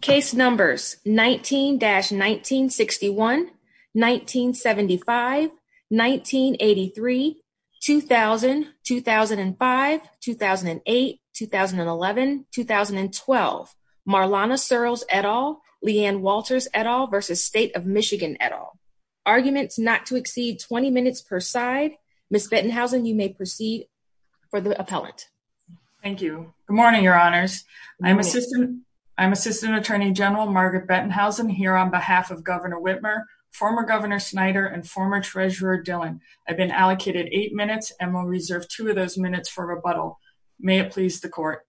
Case Numbers 19-1961, 1975, 1983, 2000, 2005, 2008, 2011, 2012 Marlana Sirls et al. Leanne Walters et al. v. State of Michigan et al. Arguments not to exceed 20 minutes per side. Ms. Bettenhausen, you may proceed for the appellant. Thank you. Good morning, Your Honors. I'm Assistant Attorney General Margaret Bettenhausen here on behalf of Governor Whitmer, former Governor Snyder, and former Treasurer Dillon. I've been allocated eight minutes, and will reserve two of those minutes for rebuttal. May it please the Court.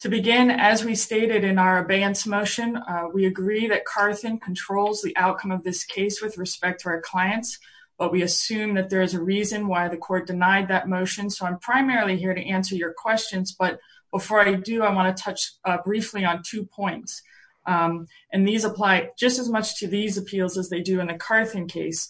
To begin, as we stated in our abeyance motion, we agree that Carson controls the outcome of this case with respect to our clients, but we assume that there is a reason why the Court denied that motion, so I'm primarily here to answer your questions. But before I do, I want to touch briefly on two points, and these apply just as much to these appeals as they do in the Carthen case.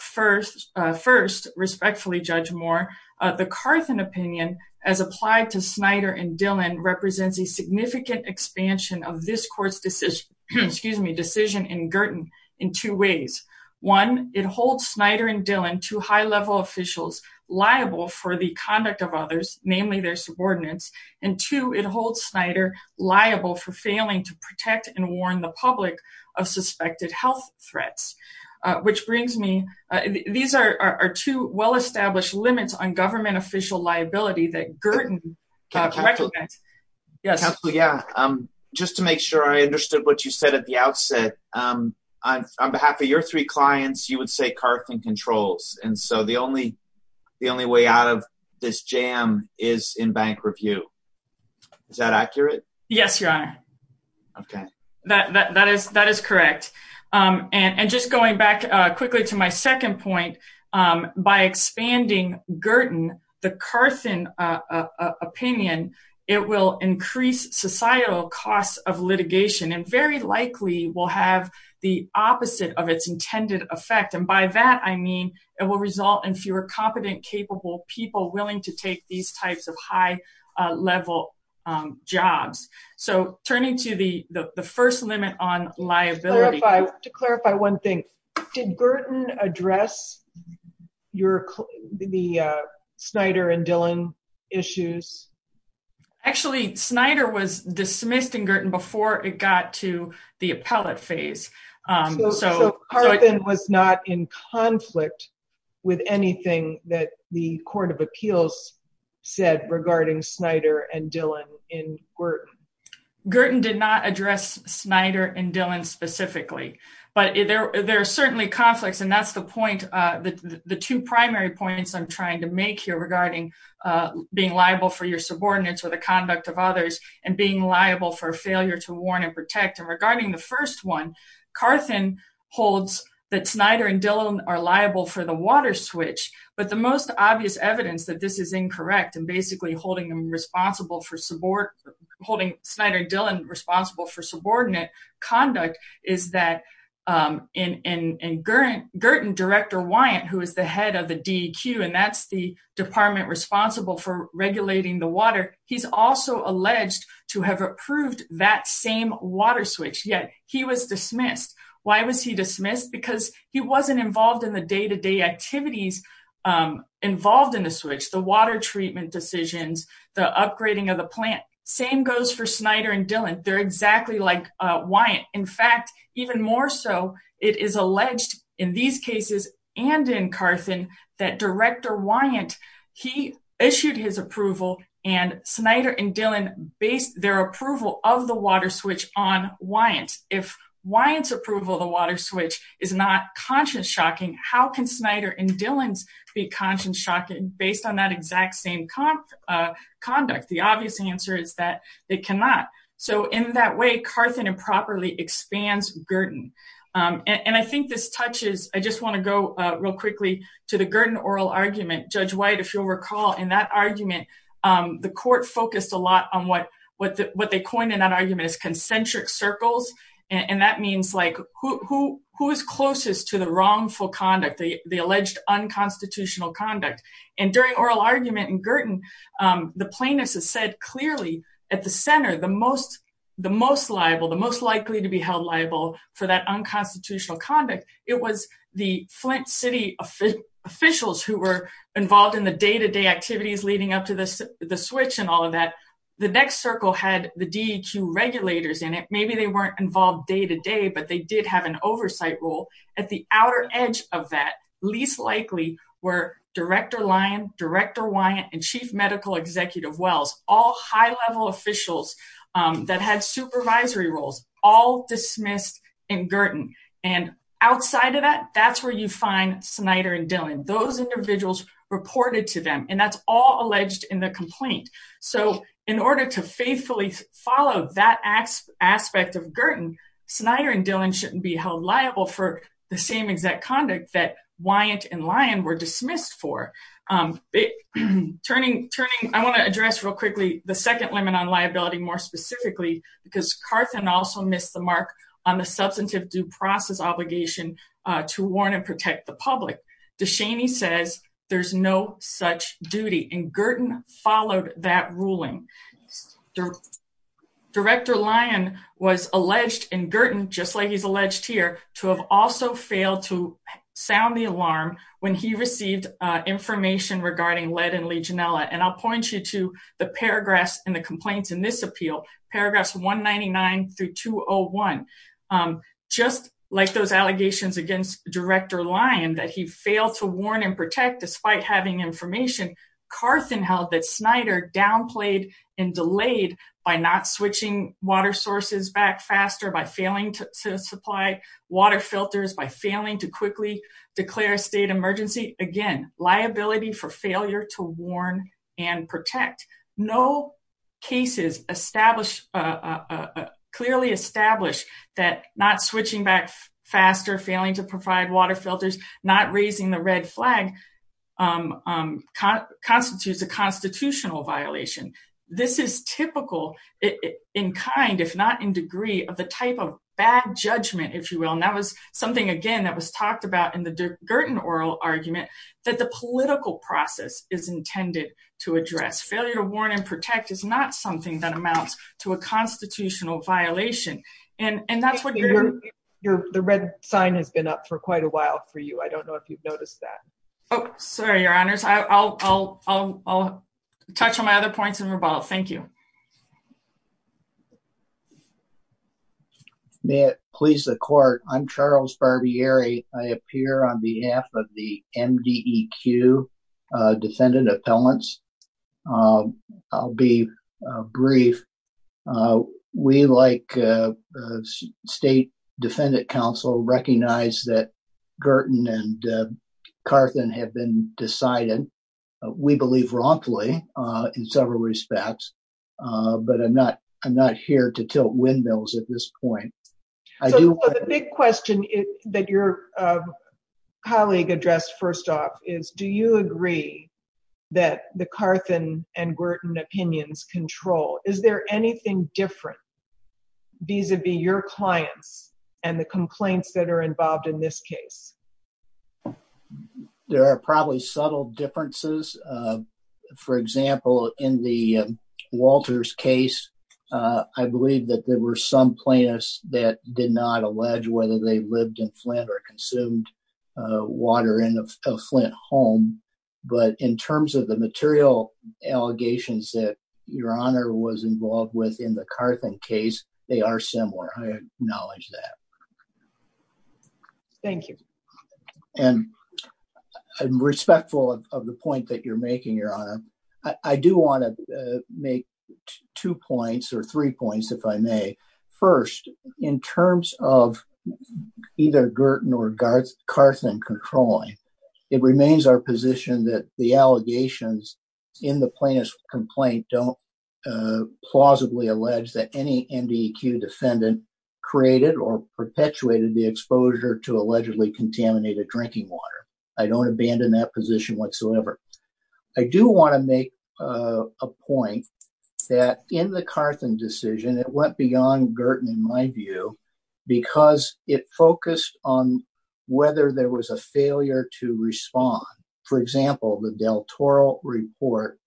First, respectfully Judge Moore, the Carthen opinion, as applied to Snyder and Dillon, represents a significant expansion of this Court's decision in Girton in two ways. One, it holds Snyder and Dillon, two high-level officials, liable for the conduct of others, namely their subordinates, and two, it holds Snyder liable for failing to protect and warn the public of suspected health threats, which brings me – these are two well-established limits on government official liability that Girton recommends. Counsel, yeah, just to make sure I understood what you said at the outset, on behalf of your three clients, you would say Carthen controls, and so the only way out of this jam is in bank review. Is that accurate? Yes, Your Honor. Okay. That is correct. And just going back quickly to my second point, by expanding Girton, the Carthen opinion, it will increase societal costs of litigation and very likely will have the opposite of its intended effect, and by that I mean it will result in fewer competent, capable people willing to take these types of high-level jobs. So turning to the first limit on liability. To clarify one thing, did Girton address the Snyder and Dillon issues? Actually, Snyder was dismissed in Girton before it got to the appellate phase. So Carthen was not in conflict with anything that the Court of Appeals said regarding Snyder and Dillon in Girton? Girton did not address Snyder and Dillon specifically, but there are certainly conflicts, and that's the point – the two primary points I'm trying to make here regarding being liable for your subordinates or the conduct of others and being liable for failure to warn and protect. And regarding the first one, Carthen holds that Snyder and Dillon are liable for the water switch, but the most obvious evidence that this is incorrect and basically holding Snyder and Dillon responsible for subordinate conduct is that in Girton, Director Wyant, who is the head of the DEQ, and that's the department responsible for regulating the water, he's also alleged to have approved that same water switch, yet he was dismissed. Why was he dismissed? Because he wasn't involved in the day-to-day activities involved in the switch, the water treatment decisions, the upgrading of the plant. Same goes for Snyder and Dillon. They're exactly like Wyant. In fact, even more so, it is alleged in these cases and in Carthen that Director Wyant, he issued his approval and Snyder and Dillon based their approval of the water switch on Wyant. If Wyant's approval of the water switch is not conscience-shocking, how can Snyder and Dillon's be conscience-shocking based on that exact same conduct? The obvious answer is that it cannot. So in that way, Carthen improperly expands Girton. And I think this touches, I just want to go real quickly to the Girton oral argument. Judge White, if you'll recall, in that argument, the court focused a lot on what they coined in that argument as concentric circles. And that means like who is closest to the wrongful conduct, the alleged unconstitutional conduct. And during oral argument in Girton, the plaintiffs have said clearly at the center, the most liable, the most likely to be held liable for that unconstitutional conduct, it was the Flint City officials who were involved in the day-to-day activities leading up to the switch and all of that. The next circle had the DEQ regulators in it. Maybe they weren't involved day-to-day, but they did have an oversight role. At the outer edge of that, least likely were Director Lyon, Director Wyant, and Chief Medical Executive Wells, all high-level officials that had supervisory roles, all dismissed in Girton. And outside of that, that's where you find Snyder and Dillon. Those individuals reported to them, and that's all alleged in the complaint. So in order to faithfully follow that aspect of Girton, Snyder and Dillon shouldn't be held liable for the same exact conduct that Wyant and Lyon were dismissed for. I want to address real quickly the second limit on liability more specifically, because Carthan also missed the mark on the substantive due process obligation to warn and protect the public. DeShaney says there's no such duty, and Girton followed that ruling. Director Lyon was alleged in Girton, just like he's alleged here, to have also failed to sound the alarm when he received information regarding lead in Legionella. And I'll point you to the paragraphs in the complaints in this appeal, paragraphs 199 through 201. Just like those allegations against Director Lyon that he failed to warn and protect despite having information, Carthan held that Snyder downplayed and delayed by not switching water sources back faster, by failing to supply water filters, by failing to quickly declare a state emergency. Again, liability for failure to warn and protect. No cases clearly establish that not switching back faster, failing to provide water filters, not raising the red flag constitutes a constitutional violation. This is typical in kind, if not in degree, of the type of bad judgment, if you will. And that was something, again, that was talked about in the Girton oral argument, that the political process is intended to address. Failure to warn and protect is not something that amounts to a constitutional violation. The red sign has been up for quite a while for you. I don't know if you've noticed that. Oh, sorry, Your Honors. I'll touch on my other points in rebuttal. Thank you. May it please the court, I'm Charles Barbieri. I appear on behalf of the MDEQ defendant appellants. I'll be brief. We, like State Defendant Council, recognize that Girton and Carthan have been decided, we believe wrongfully in several respects, but I'm not here to tilt windmills at this point. The big question that your colleague addressed first off is, do you agree that the Carthan and Girton opinions control? Is there anything different vis-a-vis your clients and the complaints that are involved in this case? There are probably subtle differences. For example, in the Walters case, I believe that there were some plaintiffs that did not allege whether they lived in Flint or consumed water in a Flint home. But in terms of the material allegations that your honor was involved with in the Carthan case, they are similar. I acknowledge that. Thank you. And I'm respectful of the point that you're making, your honor. I do want to make two points or three points, if I may. First, in terms of either Girton or Carthan controlling, it remains our position that the allegations in the plaintiff's complaint don't plausibly allege that any MDEQ defendant created or perpetuated the exposure to allegedly contaminated drinking water. I don't abandon that position whatsoever. I do want to make a point that in the Carthan decision, it went beyond Girton in my view because it focused on whether there was a failure to respond. For example, the Del Toro report,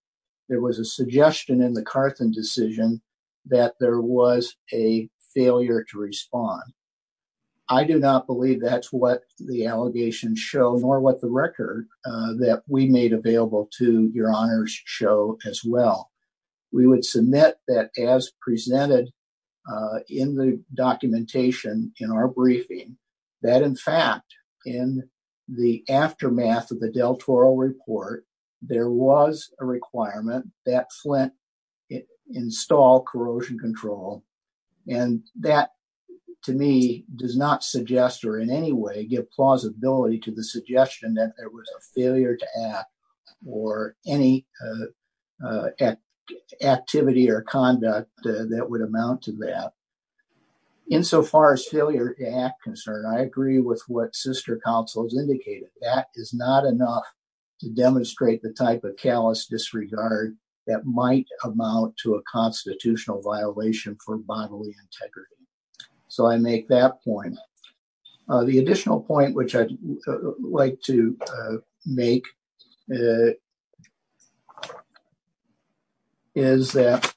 there was a suggestion in the Carthan decision that there was a failure to respond. I do not believe that's what the allegations show, nor what the record that we made available to your honors show as well. We would submit that as presented in the documentation in our briefing, that in fact, in the aftermath of the Del Toro report, there was a requirement that Flint install corrosion control. And that to me does not suggest or in any way give plausibility to the suggestion that there was a failure to act or any activity or conduct that would amount to that. Insofar as failure to act concern, I agree with what sister counsel has indicated. That is not enough to demonstrate the type of callous disregard that might amount to a constitutional violation for bodily integrity. So I make that point. The additional point which I'd like to make is that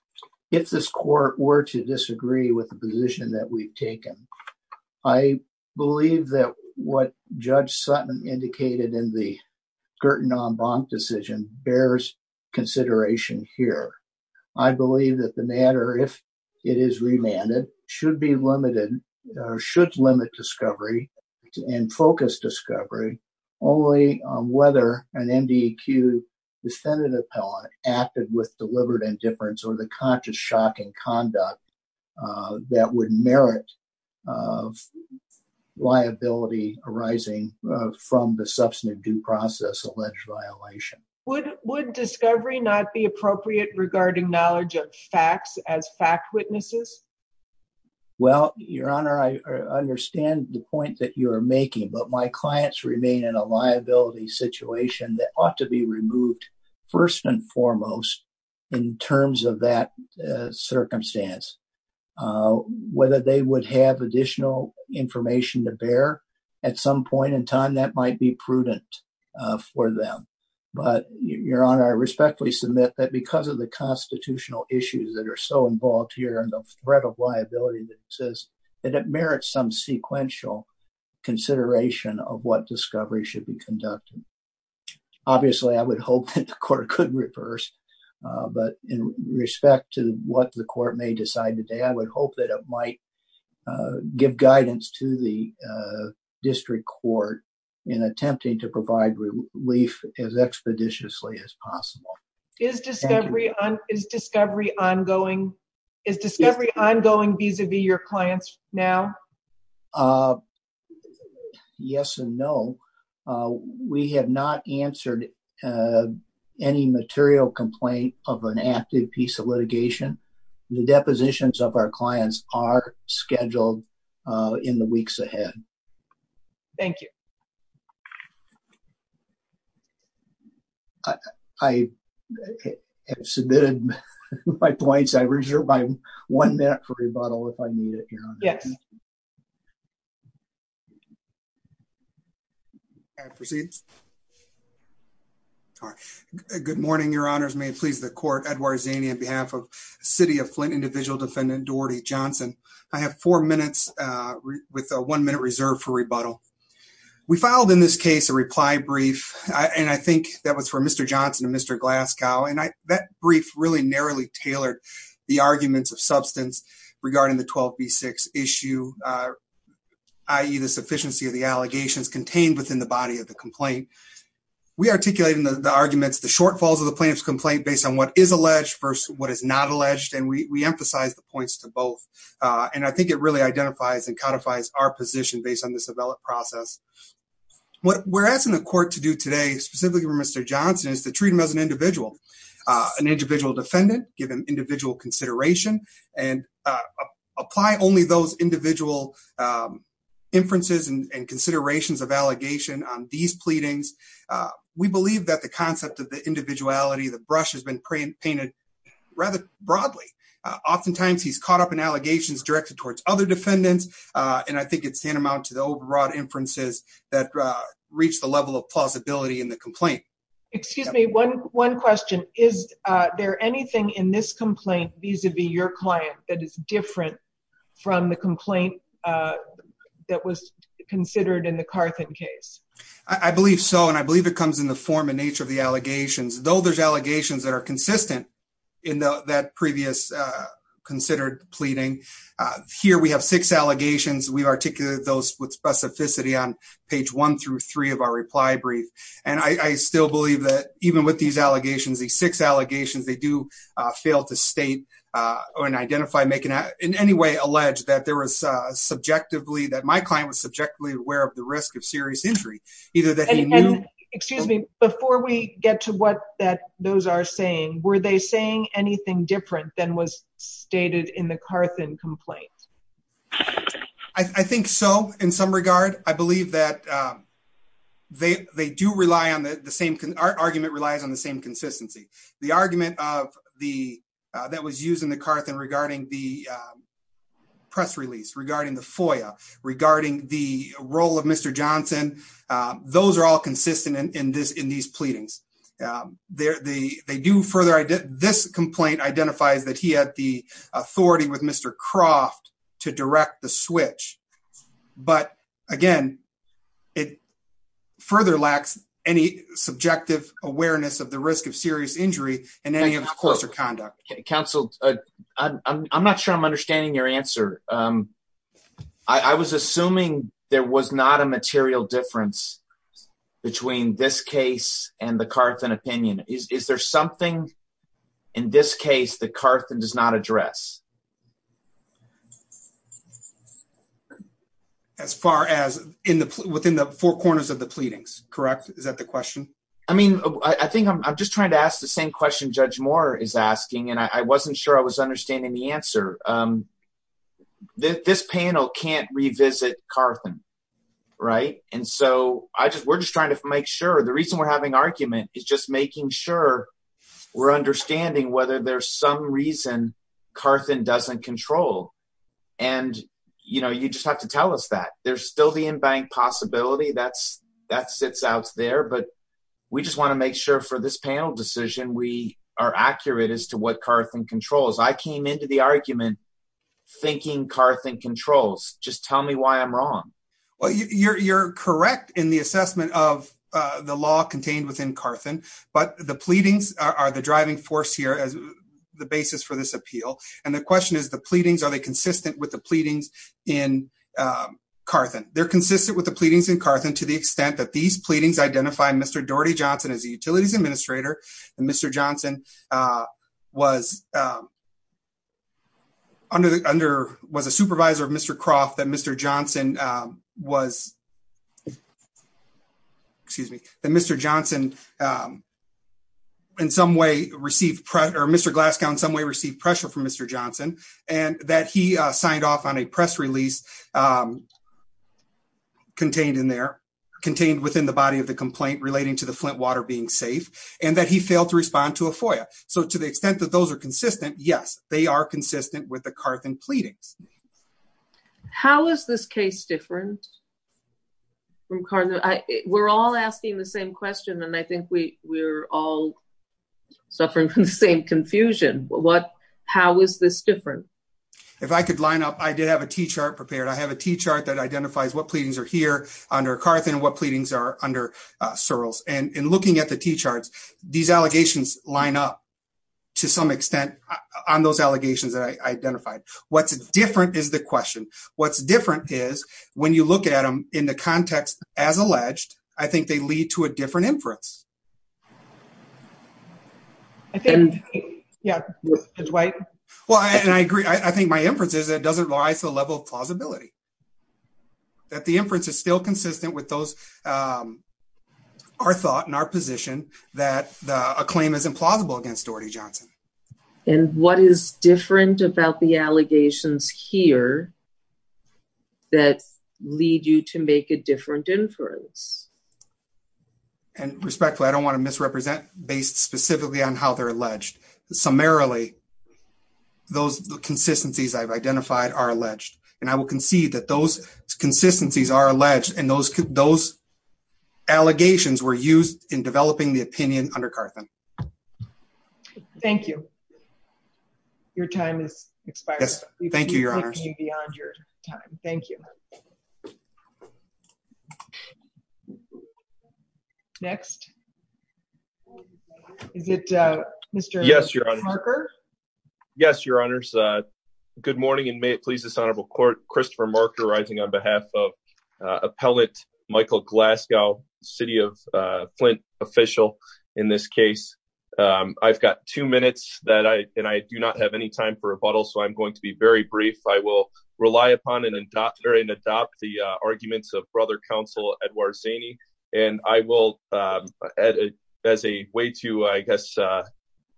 if this court were to disagree with the position that we've taken, I believe that what Judge Sutton indicated in the Girton on Bonk decision bears consideration here. I believe that the matter, if it is remanded, should be limited or should limit discovery and focus discovery only whether an MDEQ defendant appellant acted with deliberate indifference or the conscious shock and conduct that would merit liability arising from the substantive due process alleged violation. Would discovery not be appropriate regarding knowledge of facts as fact witnesses? Well, Your Honor, I understand the point that you're making, but my clients remain in a liability situation that ought to be removed first and foremost in terms of that circumstance. Whether they would have additional information to bear at some point in time, that might be prudent for them. But Your Honor, I respectfully submit that because of the constitutional issues that are so involved here and the threat of liability that says that it merits some sequential consideration of what discovery should be conducted. Obviously, I would hope that the court could reverse, but in respect to what the court may decide today, I would hope that it might give guidance to the district court in attempting to provide relief as expeditiously as possible. Is discovery ongoing vis-a-vis your clients now? Yes and no. We have not answered any material complaint of an active piece of litigation. The depositions of our clients are scheduled in the weeks ahead. Thank you. I have submitted my points. I reserve my one minute for rebuttal if I need it. Yes. Thank you. I proceed. Good morning, Your Honors. May it please the court. Edward Zaney on behalf of City of Flint Individual Defendant Doherty Johnson. I have four minutes with a one minute reserve for rebuttal. We filed in this case a reply brief, and I think that was for Mr. Johnson and Mr. Glasgow, and that brief really narrowly tailored the arguments of substance regarding the 12B6 issue, i.e. the sufficiency of the allegations contained within the body of the complaint. We articulate in the arguments the shortfalls of the plaintiff's complaint based on what is alleged versus what is not alleged, and we emphasize the points to both. And I think it really identifies and codifies our position based on this developed process. What we're asking the court to do today, specifically for Mr. Johnson, is to treat him as an individual, an individual defendant, give him individual consideration and apply only those individual inferences and considerations of allegation on these pleadings. We believe that the concept of the individuality, the brush has been painted rather broadly. Oftentimes he's caught up in allegations directed towards other defendants, and I think it's tantamount to the overall inferences that reach the level of plausibility in the complaint. Excuse me, one question. Is there anything in this complaint vis-a-vis your client that is different from the complaint that was considered in the Carthan case? I believe so, and I believe it comes in the form and nature of the allegations, though there's allegations that are consistent in that previous considered pleading. Here we have six allegations. We articulate those with specificity on page one through three of our reply brief. And I still believe that even with these allegations, these six allegations, they do fail to state or identify, in any way, allege that there was subjectively, that my client was subjectively aware of the risk of serious injury. Excuse me, before we get to what those are saying, were they saying anything different than was stated in the Carthan complaint? I think so, in some regard. I believe that they do rely on the same, our argument relies on the same consistency. The argument that was used in the Carthan regarding the press release, regarding the FOIA, regarding the role of Mr. Johnson, those are all consistent in these pleadings. They do further, this complaint identifies that he had the authority with Mr. Croft to direct the switch. But, again, it further lacks any subjective awareness of the risk of serious injury in any of his course or conduct. Counsel, I'm not sure I'm understanding your answer. I was assuming there was not a material difference between this case and the Carthan opinion. Is there something, in this case, that Carthan does not address? As far as, within the four corners of the pleadings, correct? Is that the question? I mean, I think I'm just trying to ask the same question Judge Moore is asking, and I wasn't sure I was understanding the answer. This panel can't revisit Carthan, right? And so, we're just trying to make sure. The reason we're having argument is just making sure we're understanding whether there's some reason Carthan doesn't control. And, you know, you just have to tell us that. There's still the in-bank possibility. That sits out there. But we just want to make sure for this panel decision we are accurate as to what Carthan controls. I came into the argument thinking Carthan controls. Just tell me why I'm wrong. Well, you're correct in the assessment of the law contained within Carthan. But the pleadings are the driving force here as the basis for this appeal. And the question is, are the pleadings consistent with the pleadings in Carthan? They're consistent with the pleadings in Carthan to the extent that these pleadings identify Mr. Daugherty Johnson as a utilities administrator. And Mr. Johnson was a supervisor of Mr. Croft. That Mr. Johnson was, excuse me, that Mr. Johnson in some way received, or Mr. Glasgow in some way received pressure from Mr. Johnson. And that he signed off on a press release contained in there, contained within the body of the complaint relating to the Flint water being safe. And that he failed to respond to a FOIA. So to the extent that those are consistent, yes, they are consistent with the Carthan pleadings. How is this case different from Carthan? We're all asking the same question, and I think we're all suffering from the same confusion. How is this different? If I could line up, I did have a T-chart prepared. I have a T-chart that identifies what pleadings are here under Carthan and what pleadings are under Searles. And in looking at the T-charts, these allegations line up to some extent on those allegations that I identified. What's different is the question. What's different is when you look at them in the context as alleged, I think they lead to a different inference. And, yeah, Dwight? Well, and I agree. I think my inference is that it doesn't rise to the level of plausibility. That the inference is still consistent with our thought and our position that a claim is implausible against Doherty Johnson. And what is different about the allegations here that lead you to make a different inference? And respectfully, I don't want to misrepresent based specifically on how they're alleged. Summarily, those consistencies I've identified are alleged. And I will concede that those consistencies are alleged and those allegations were used in developing the opinion under Carthan. Thank you. Your time has expired. Thank you, Your Honors. We've been looking beyond your time. Thank you. Next. Is it Mr. Parker? Yes, Your Honors. Good morning, and may it please this Honorable Court, Christopher Parker, rising on behalf of Appellant Michael Glasgow, City of Flint official in this case. I've got two minutes and I do not have any time for rebuttal, so I'm going to be very brief. I will rely upon and adopt the arguments of Brother Counsel Edward Zaney, and I will, as a way to, I guess,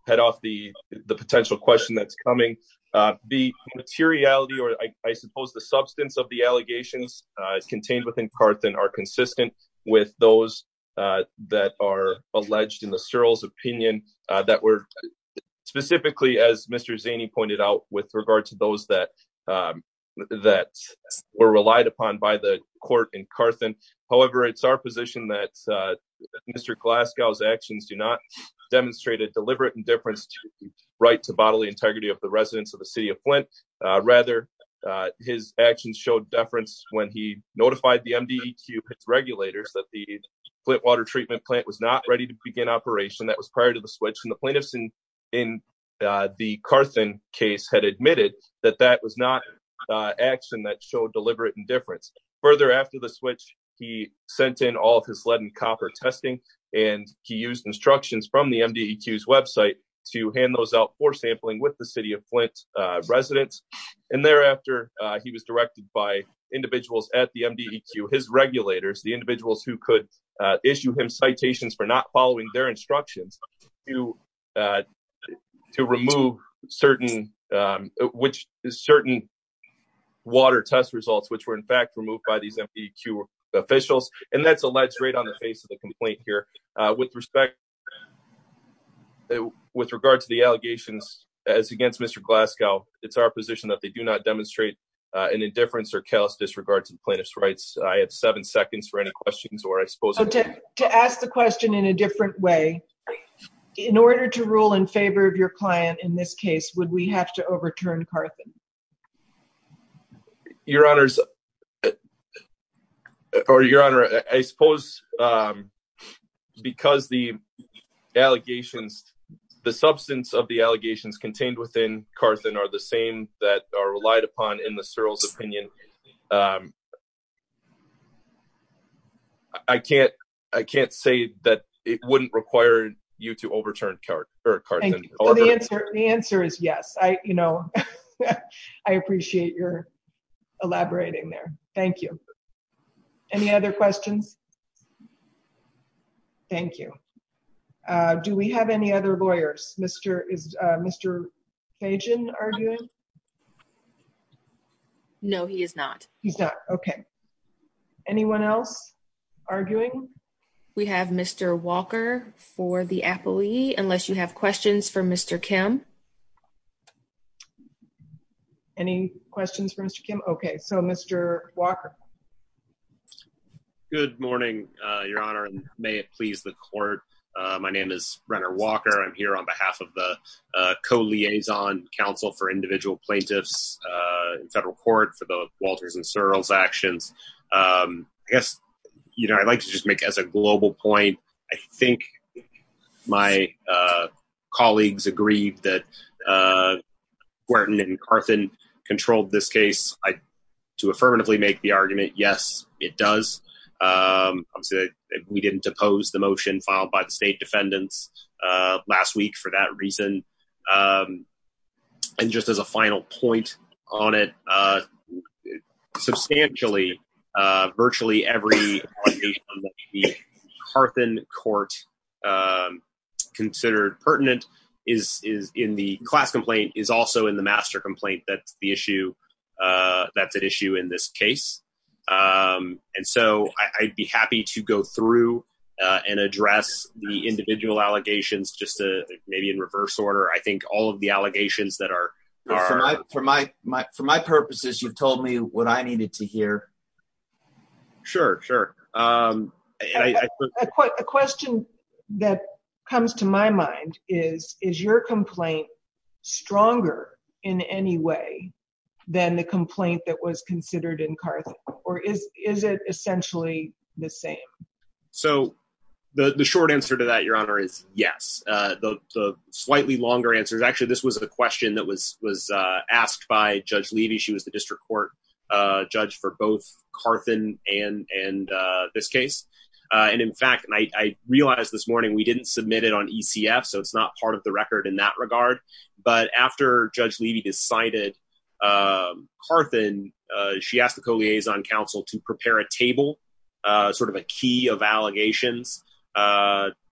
head off the potential question that's coming. The materiality, or I suppose the substance of the allegations contained within Carthan are consistent with those that are alleged in the Searles opinion that were specifically, as Mr. Zaney pointed out, with regard to those that were relied upon by the court in Carthan. However, it's our position that Mr. Glasgow's actions do not demonstrate a deliberate indifference to the right to bodily integrity of the residents of the City of Flint. Rather, his actions showed deference when he notified the MDEQ regulators that the Flint water treatment plant was not ready to begin operation. That was prior to the switch, and the plaintiffs in the Carthan case had admitted that that was not action that showed deliberate indifference. Further, after the switch, he sent in all of his lead and copper testing, and he used instructions from the MDEQ's website to hand those out for sampling with the City of Flint residents. And thereafter, he was directed by individuals at the MDEQ, his regulators, the individuals who could issue him citations for not following their instructions, to remove certain water test results, which were in fact removed by these MDEQ officials. And that's alleged right on the face of the complaint here. With respect, with regard to the allegations as against Mr. Glasgow, it's our position that they do not demonstrate an indifference or callous disregard to the plaintiff's rights. I have seven seconds for any questions, or I suppose... To ask the question in a different way, in order to rule in favor of your client in this case, would we have to overturn Carthan? Your Honor, I suppose because the allegations, the substance of the allegations contained within Carthan are the same that are relied upon in the Searle's opinion, I can't say that it wouldn't require you to overturn Carthan. The answer is yes. I, you know, I appreciate your elaborating there. Thank you. Any other questions? Thank you. Do we have any other lawyers? Is Mr. Fajan arguing? No, he is not. He's not, okay. Anyone else arguing? We have Mr. Walker for the appellee, unless you have questions for Mr. Kim. Any questions for Mr. Kim? Okay, so Mr. Walker. Good morning, Your Honor, and may it please the court. My name is Renner Walker. I'm here on behalf of the Co-Liaison Council for Individual Plaintiffs in federal court for the Walters and Searle's actions. I guess, you know, I'd like to just make as a global point, I think my colleagues agreed that Wharton and Carthan controlled this case. To affirmatively make the argument, yes, it does. We didn't depose the motion filed by the state defendants last week for that reason. And just as a final point on it, substantially, virtually every Carthan court considered pertinent is in the class complaint is also in the master complaint. That's the issue. That's an issue in this case. And so I'd be happy to go through and address the individual allegations just to maybe in reverse order. I think all of the allegations that are. For my purposes, you've told me what I needed to hear. Sure, sure. A question that comes to my mind is, is your complaint stronger in any way than the complaint that was considered in Cartham? Or is is it essentially the same? So the short answer to that, Your Honor, is yes. Slightly longer answers. Actually, this was a question that was was asked by Judge Levy. She was the district court judge for both Carthan and and this case. And in fact, I realized this morning we didn't submit it on ECF, so it's not part of the record in that regard. But after Judge Levy decided Carthan, she asked the co liaison counsel to prepare a table, sort of a key of allegations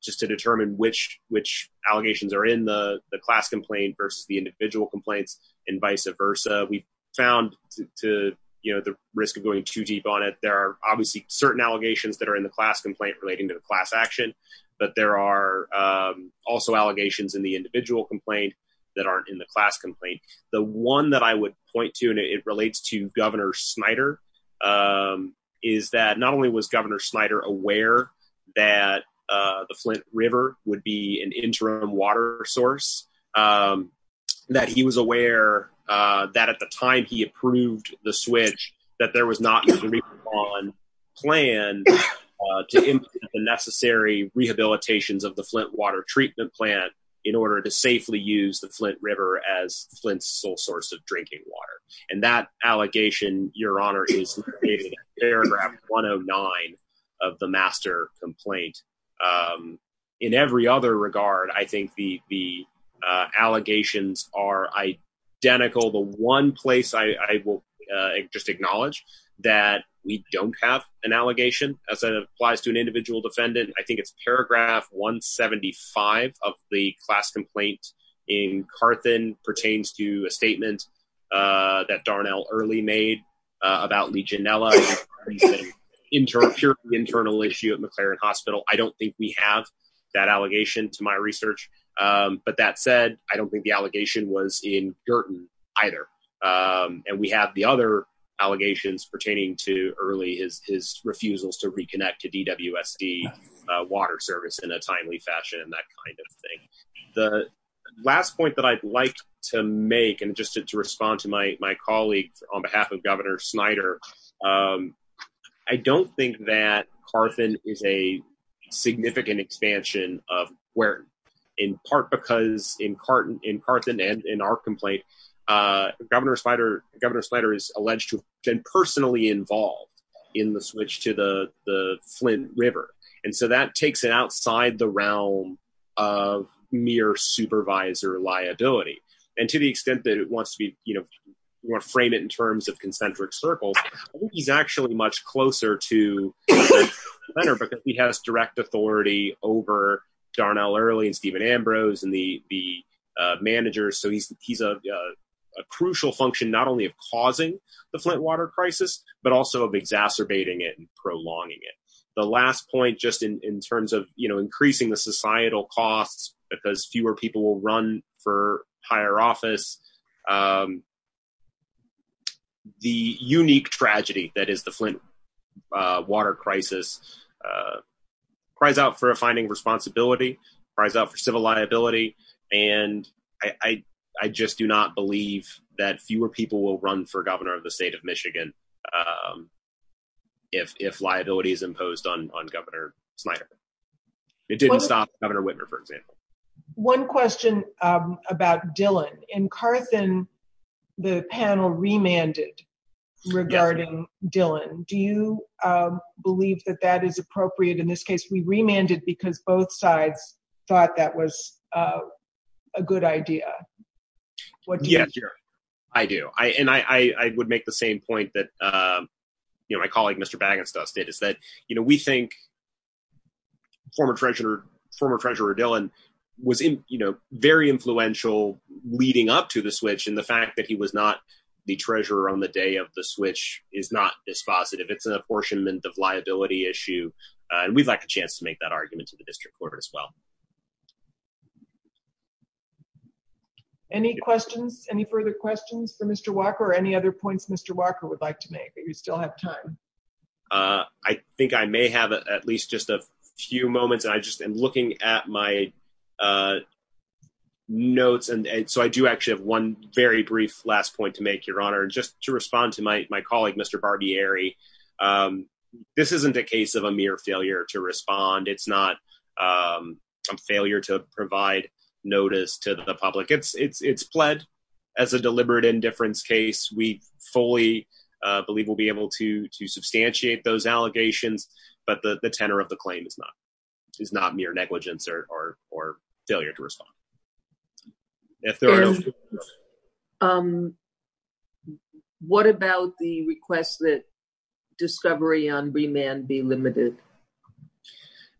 just to determine which which allegations are in the class complaint versus the individual complaints and vice versa. We found to the risk of going too deep on it. There are obviously certain allegations that are in the class complaint relating to the class action. But there are also allegations in the individual complaint that aren't in the class complaint. The one that I would point to, and it relates to Governor Snyder, is that not only was Governor Snyder aware that the Flint River would be an interim water source, that he was aware that at the time he approved the switch, that there was not a plan to implement the necessary rehabilitations of the Flint water treatment plant in order to safely use the Flint River as the Flint River. And that allegation, Your Honor, is paragraph 109 of the master complaint. In every other regard, I think the allegations are identical. The one place I will just acknowledge that we don't have an allegation as it applies to an individual defendant. I think it's paragraph 175 of the class complaint in Carthan pertains to a statement that Darnell early made about Legionella internal internal issue at McLaren Hospital. I don't think we have that allegation to my research. But that said, I don't think the allegation was in Girton either. And we have the other allegations pertaining to early is his refusals to reconnect to DWSD water service in a timely fashion and that kind of thing. The last point that I'd like to make and just to respond to my colleague on behalf of Governor Snyder. I don't think that Carthan is a significant expansion of where, in part because in Carthan and in our complaint, Governor Snyder is alleged to have been personally involved in the switch to the Flint River. And so that takes it outside the realm of mere supervisor liability. And to the extent that it wants to be, you know, more frame it in terms of concentric circles. He's actually much closer to Leonard because he has direct authority over Darnell early and Stephen Ambrose and the the manager. So he's he's a crucial function, not only of causing the Flint water crisis, but also of exacerbating it and prolonging it. The last point, just in terms of, you know, increasing the societal costs because fewer people will run for higher office. The unique tragedy that is the Flint water crisis cries out for a finding responsibility, cries out for civil liability. And I just do not believe that fewer people will run for governor of the state of Michigan. If if liability is imposed on Governor Snyder, it didn't stop Governor Whitmer, for example. One question about Dillon and Carthan, the panel remanded regarding Dillon. Do you believe that that is appropriate in this case? We remanded because both sides thought that was a good idea. Yes, I do. I and I would make the same point that, you know, my colleague, Mr. Baggins dusted is that, you know, we think former treasurer, former treasurer Dillon was, you know, very influential leading up to the switch. And the fact that he was not the treasurer on the day of the switch is not this positive. It's an apportionment of liability issue. And we'd like a chance to make that argument to the district court as well. Any questions, any further questions for Mr. Walker or any other points? Mr. Walker would like to make that you still have time. I think I may have at least just a few moments. I just am looking at my notes. And so I do actually have one very brief last point to make, Your Honor. Just to respond to my colleague, Mr. Barbieri. This isn't a case of a mere failure to respond. It's not a failure to provide notice to the public. It's it's it's pled as a deliberate indifference case. We fully believe we'll be able to to substantiate those allegations. But the tenor of the claim is not is not mere negligence or or or failure to respond. And what about the request that discovery on remand be limited?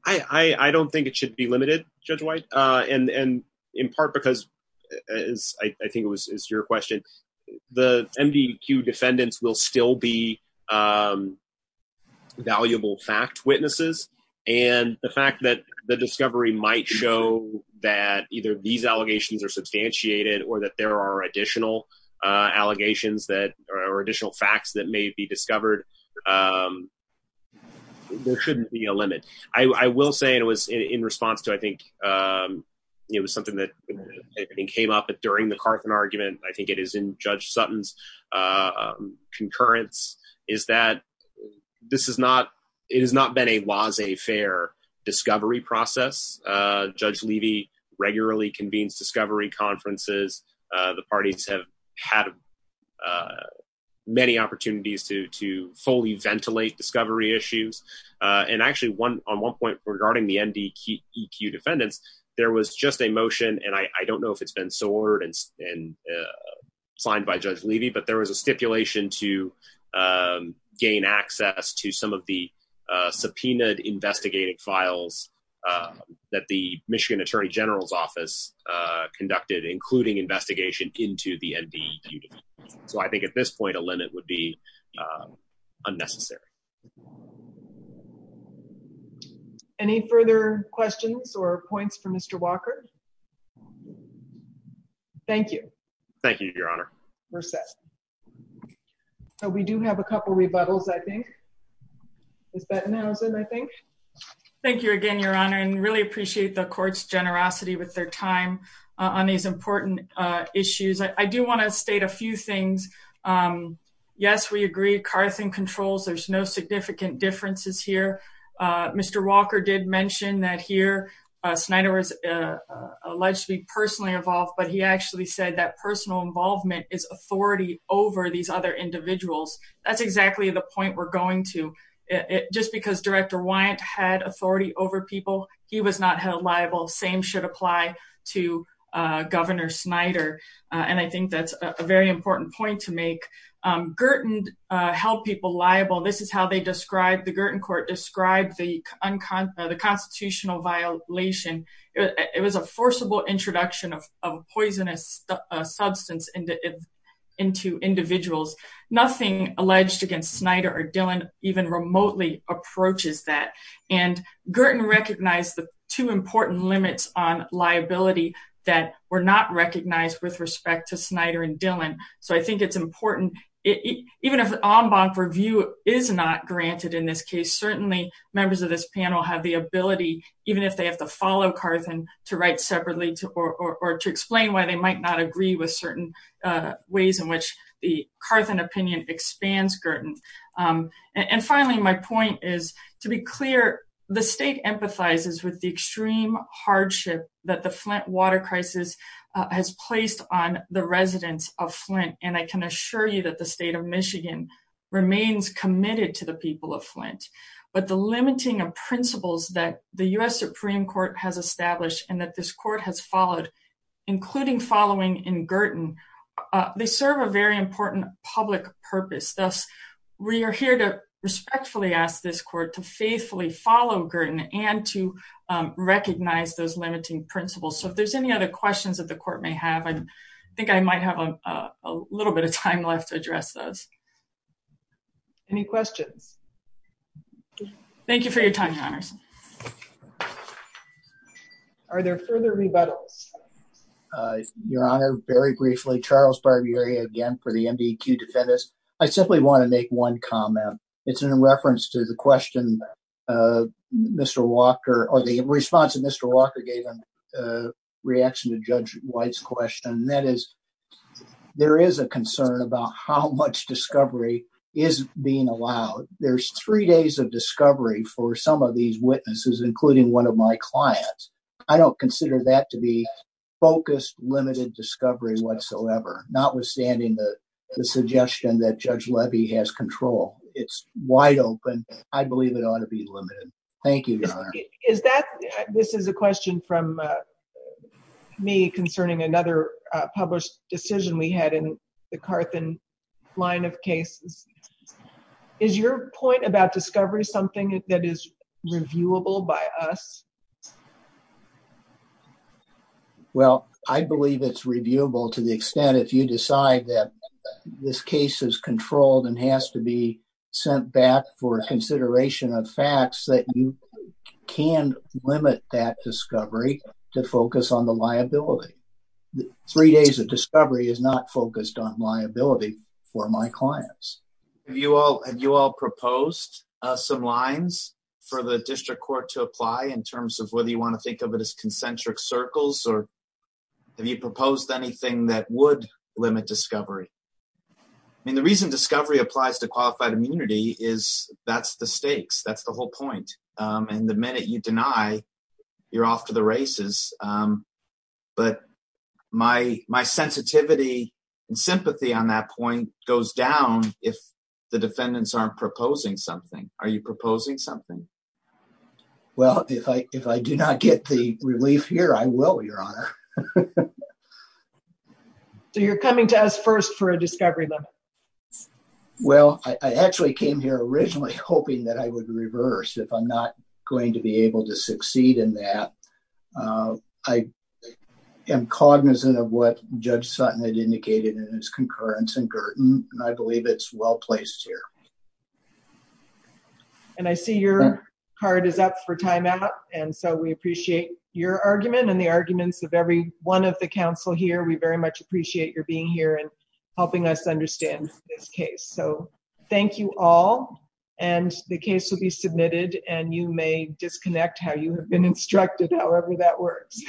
I don't think it should be limited, Judge White. And in part because I think it was your question. The MDQ defendants will still be valuable fact witnesses. And the fact that the discovery might show that either these allegations are substantiated or that there are additional allegations that are additional facts that may be discovered. There shouldn't be a limit. I will say it was in response to I think it was something that came up during the Carson argument. I think it is in Judge Sutton's concurrence is that this is not it has not been a was a fair discovery process. Judge Levy regularly convenes discovery conferences. The parties have had many opportunities to to fully ventilate discovery issues. And actually one on one point regarding the MDQ defendants, there was just a motion. And I don't know if it's been sorted and signed by Judge Levy, but there was a stipulation to gain access to some of the subpoenaed investigating files that the Michigan Attorney General's office conducted, including investigation into the MDQ. So I think at this point, a limit would be unnecessary. Any further questions or points for Mr. Walker? Thank you. Thank you, Your Honor. We're set. So we do have a couple of rebuttals, I think. Thank you again, Your Honor, and really appreciate the court's generosity with their time on these important issues. I do want to state a few things. Yes, we agree. Carson controls. There's no significant differences here. Mr. Walker did mention that here Snyder was alleged to be personally involved, but he actually said that personal involvement is authority over these other individuals. That's exactly the point we're going to. Just because Director Wyant had authority over people, he was not held liable. Same should apply to Governor Snyder. And I think that's a very important point to make. Girton held people liable. This is how they described, the Girton court described the constitutional violation. It was a forcible introduction of poisonous substance into individuals. Nothing alleged against Snyder or Dillon even remotely approaches that. And Girton recognized the two important limits on liability that were not recognized with respect to Snyder and Dillon. So I think it's important, even if an en banc review is not granted in this case, certainly members of this panel have the ability, even if they have to follow Carson, to write separately or to explain why they might not agree with certain ways in which the Carson opinion expands Girton. And finally, my point is, to be clear, the state empathizes with the extreme hardship that the Flint water crisis has placed on the residents of Flint. And I can assure you that the state of Michigan remains committed to the people of Flint. But the limiting of principles that the U.S. Supreme Court has established and that this court has followed, including following in Girton, they serve a very important public purpose. Thus, we are here to respectfully ask this court to faithfully follow Girton and to recognize those limiting principles. So if there's any other questions that the court may have, I think I might have a little bit of time left to address those. Any questions? Thank you for your time, Your Honors. Are there further rebuttals? Your Honor, very briefly, Charles Barbieri again for the MDQ Defendants. I simply want to make one comment. It's in reference to the question Mr. Walker or the response that Mr. Walker gave in reaction to Judge White's question. That is, there is a concern about how much discovery is being allowed. There's three days of discovery for some of these witnesses, including one of my clients. I don't consider that to be focused, limited discovery whatsoever, notwithstanding the suggestion that Judge Levy has control. It's wide open. I believe it ought to be limited. Thank you, Your Honor. This is a question from me concerning another published decision we had in the Carthan line of cases. Is your point about discovery something that is reviewable by us? Well, I believe it's reviewable to the extent if you decide that this case is controlled and has to be sent back for consideration of facts that you can limit that discovery to focus on the liability. Three days of discovery is not focused on liability for my clients. Have you all proposed some lines for the district court to apply in terms of whether you want to think of it as concentric circles or have you proposed anything that would limit discovery? I mean, the reason discovery applies to qualified immunity is that's the stakes. That's the whole point. And the minute you deny, you're off to the races. But my sensitivity and sympathy on that point goes down if the defendants aren't proposing something. Are you proposing something? Well, if I do not get the relief here, I will, Your Honor. So you're coming to us first for a discovery limit? Well, I actually came here originally hoping that I would reverse if I'm not going to be able to succeed in that. I am cognizant of what Judge Sutton had indicated in his concurrence in Girton, and I believe it's well placed here. And I see your card is up for timeout. And so we appreciate your argument and the arguments of every one of the council here. We very much appreciate your being here and helping us understand this case. So thank you all. And the case will be submitted and you may disconnect how you have been instructed. However, that works.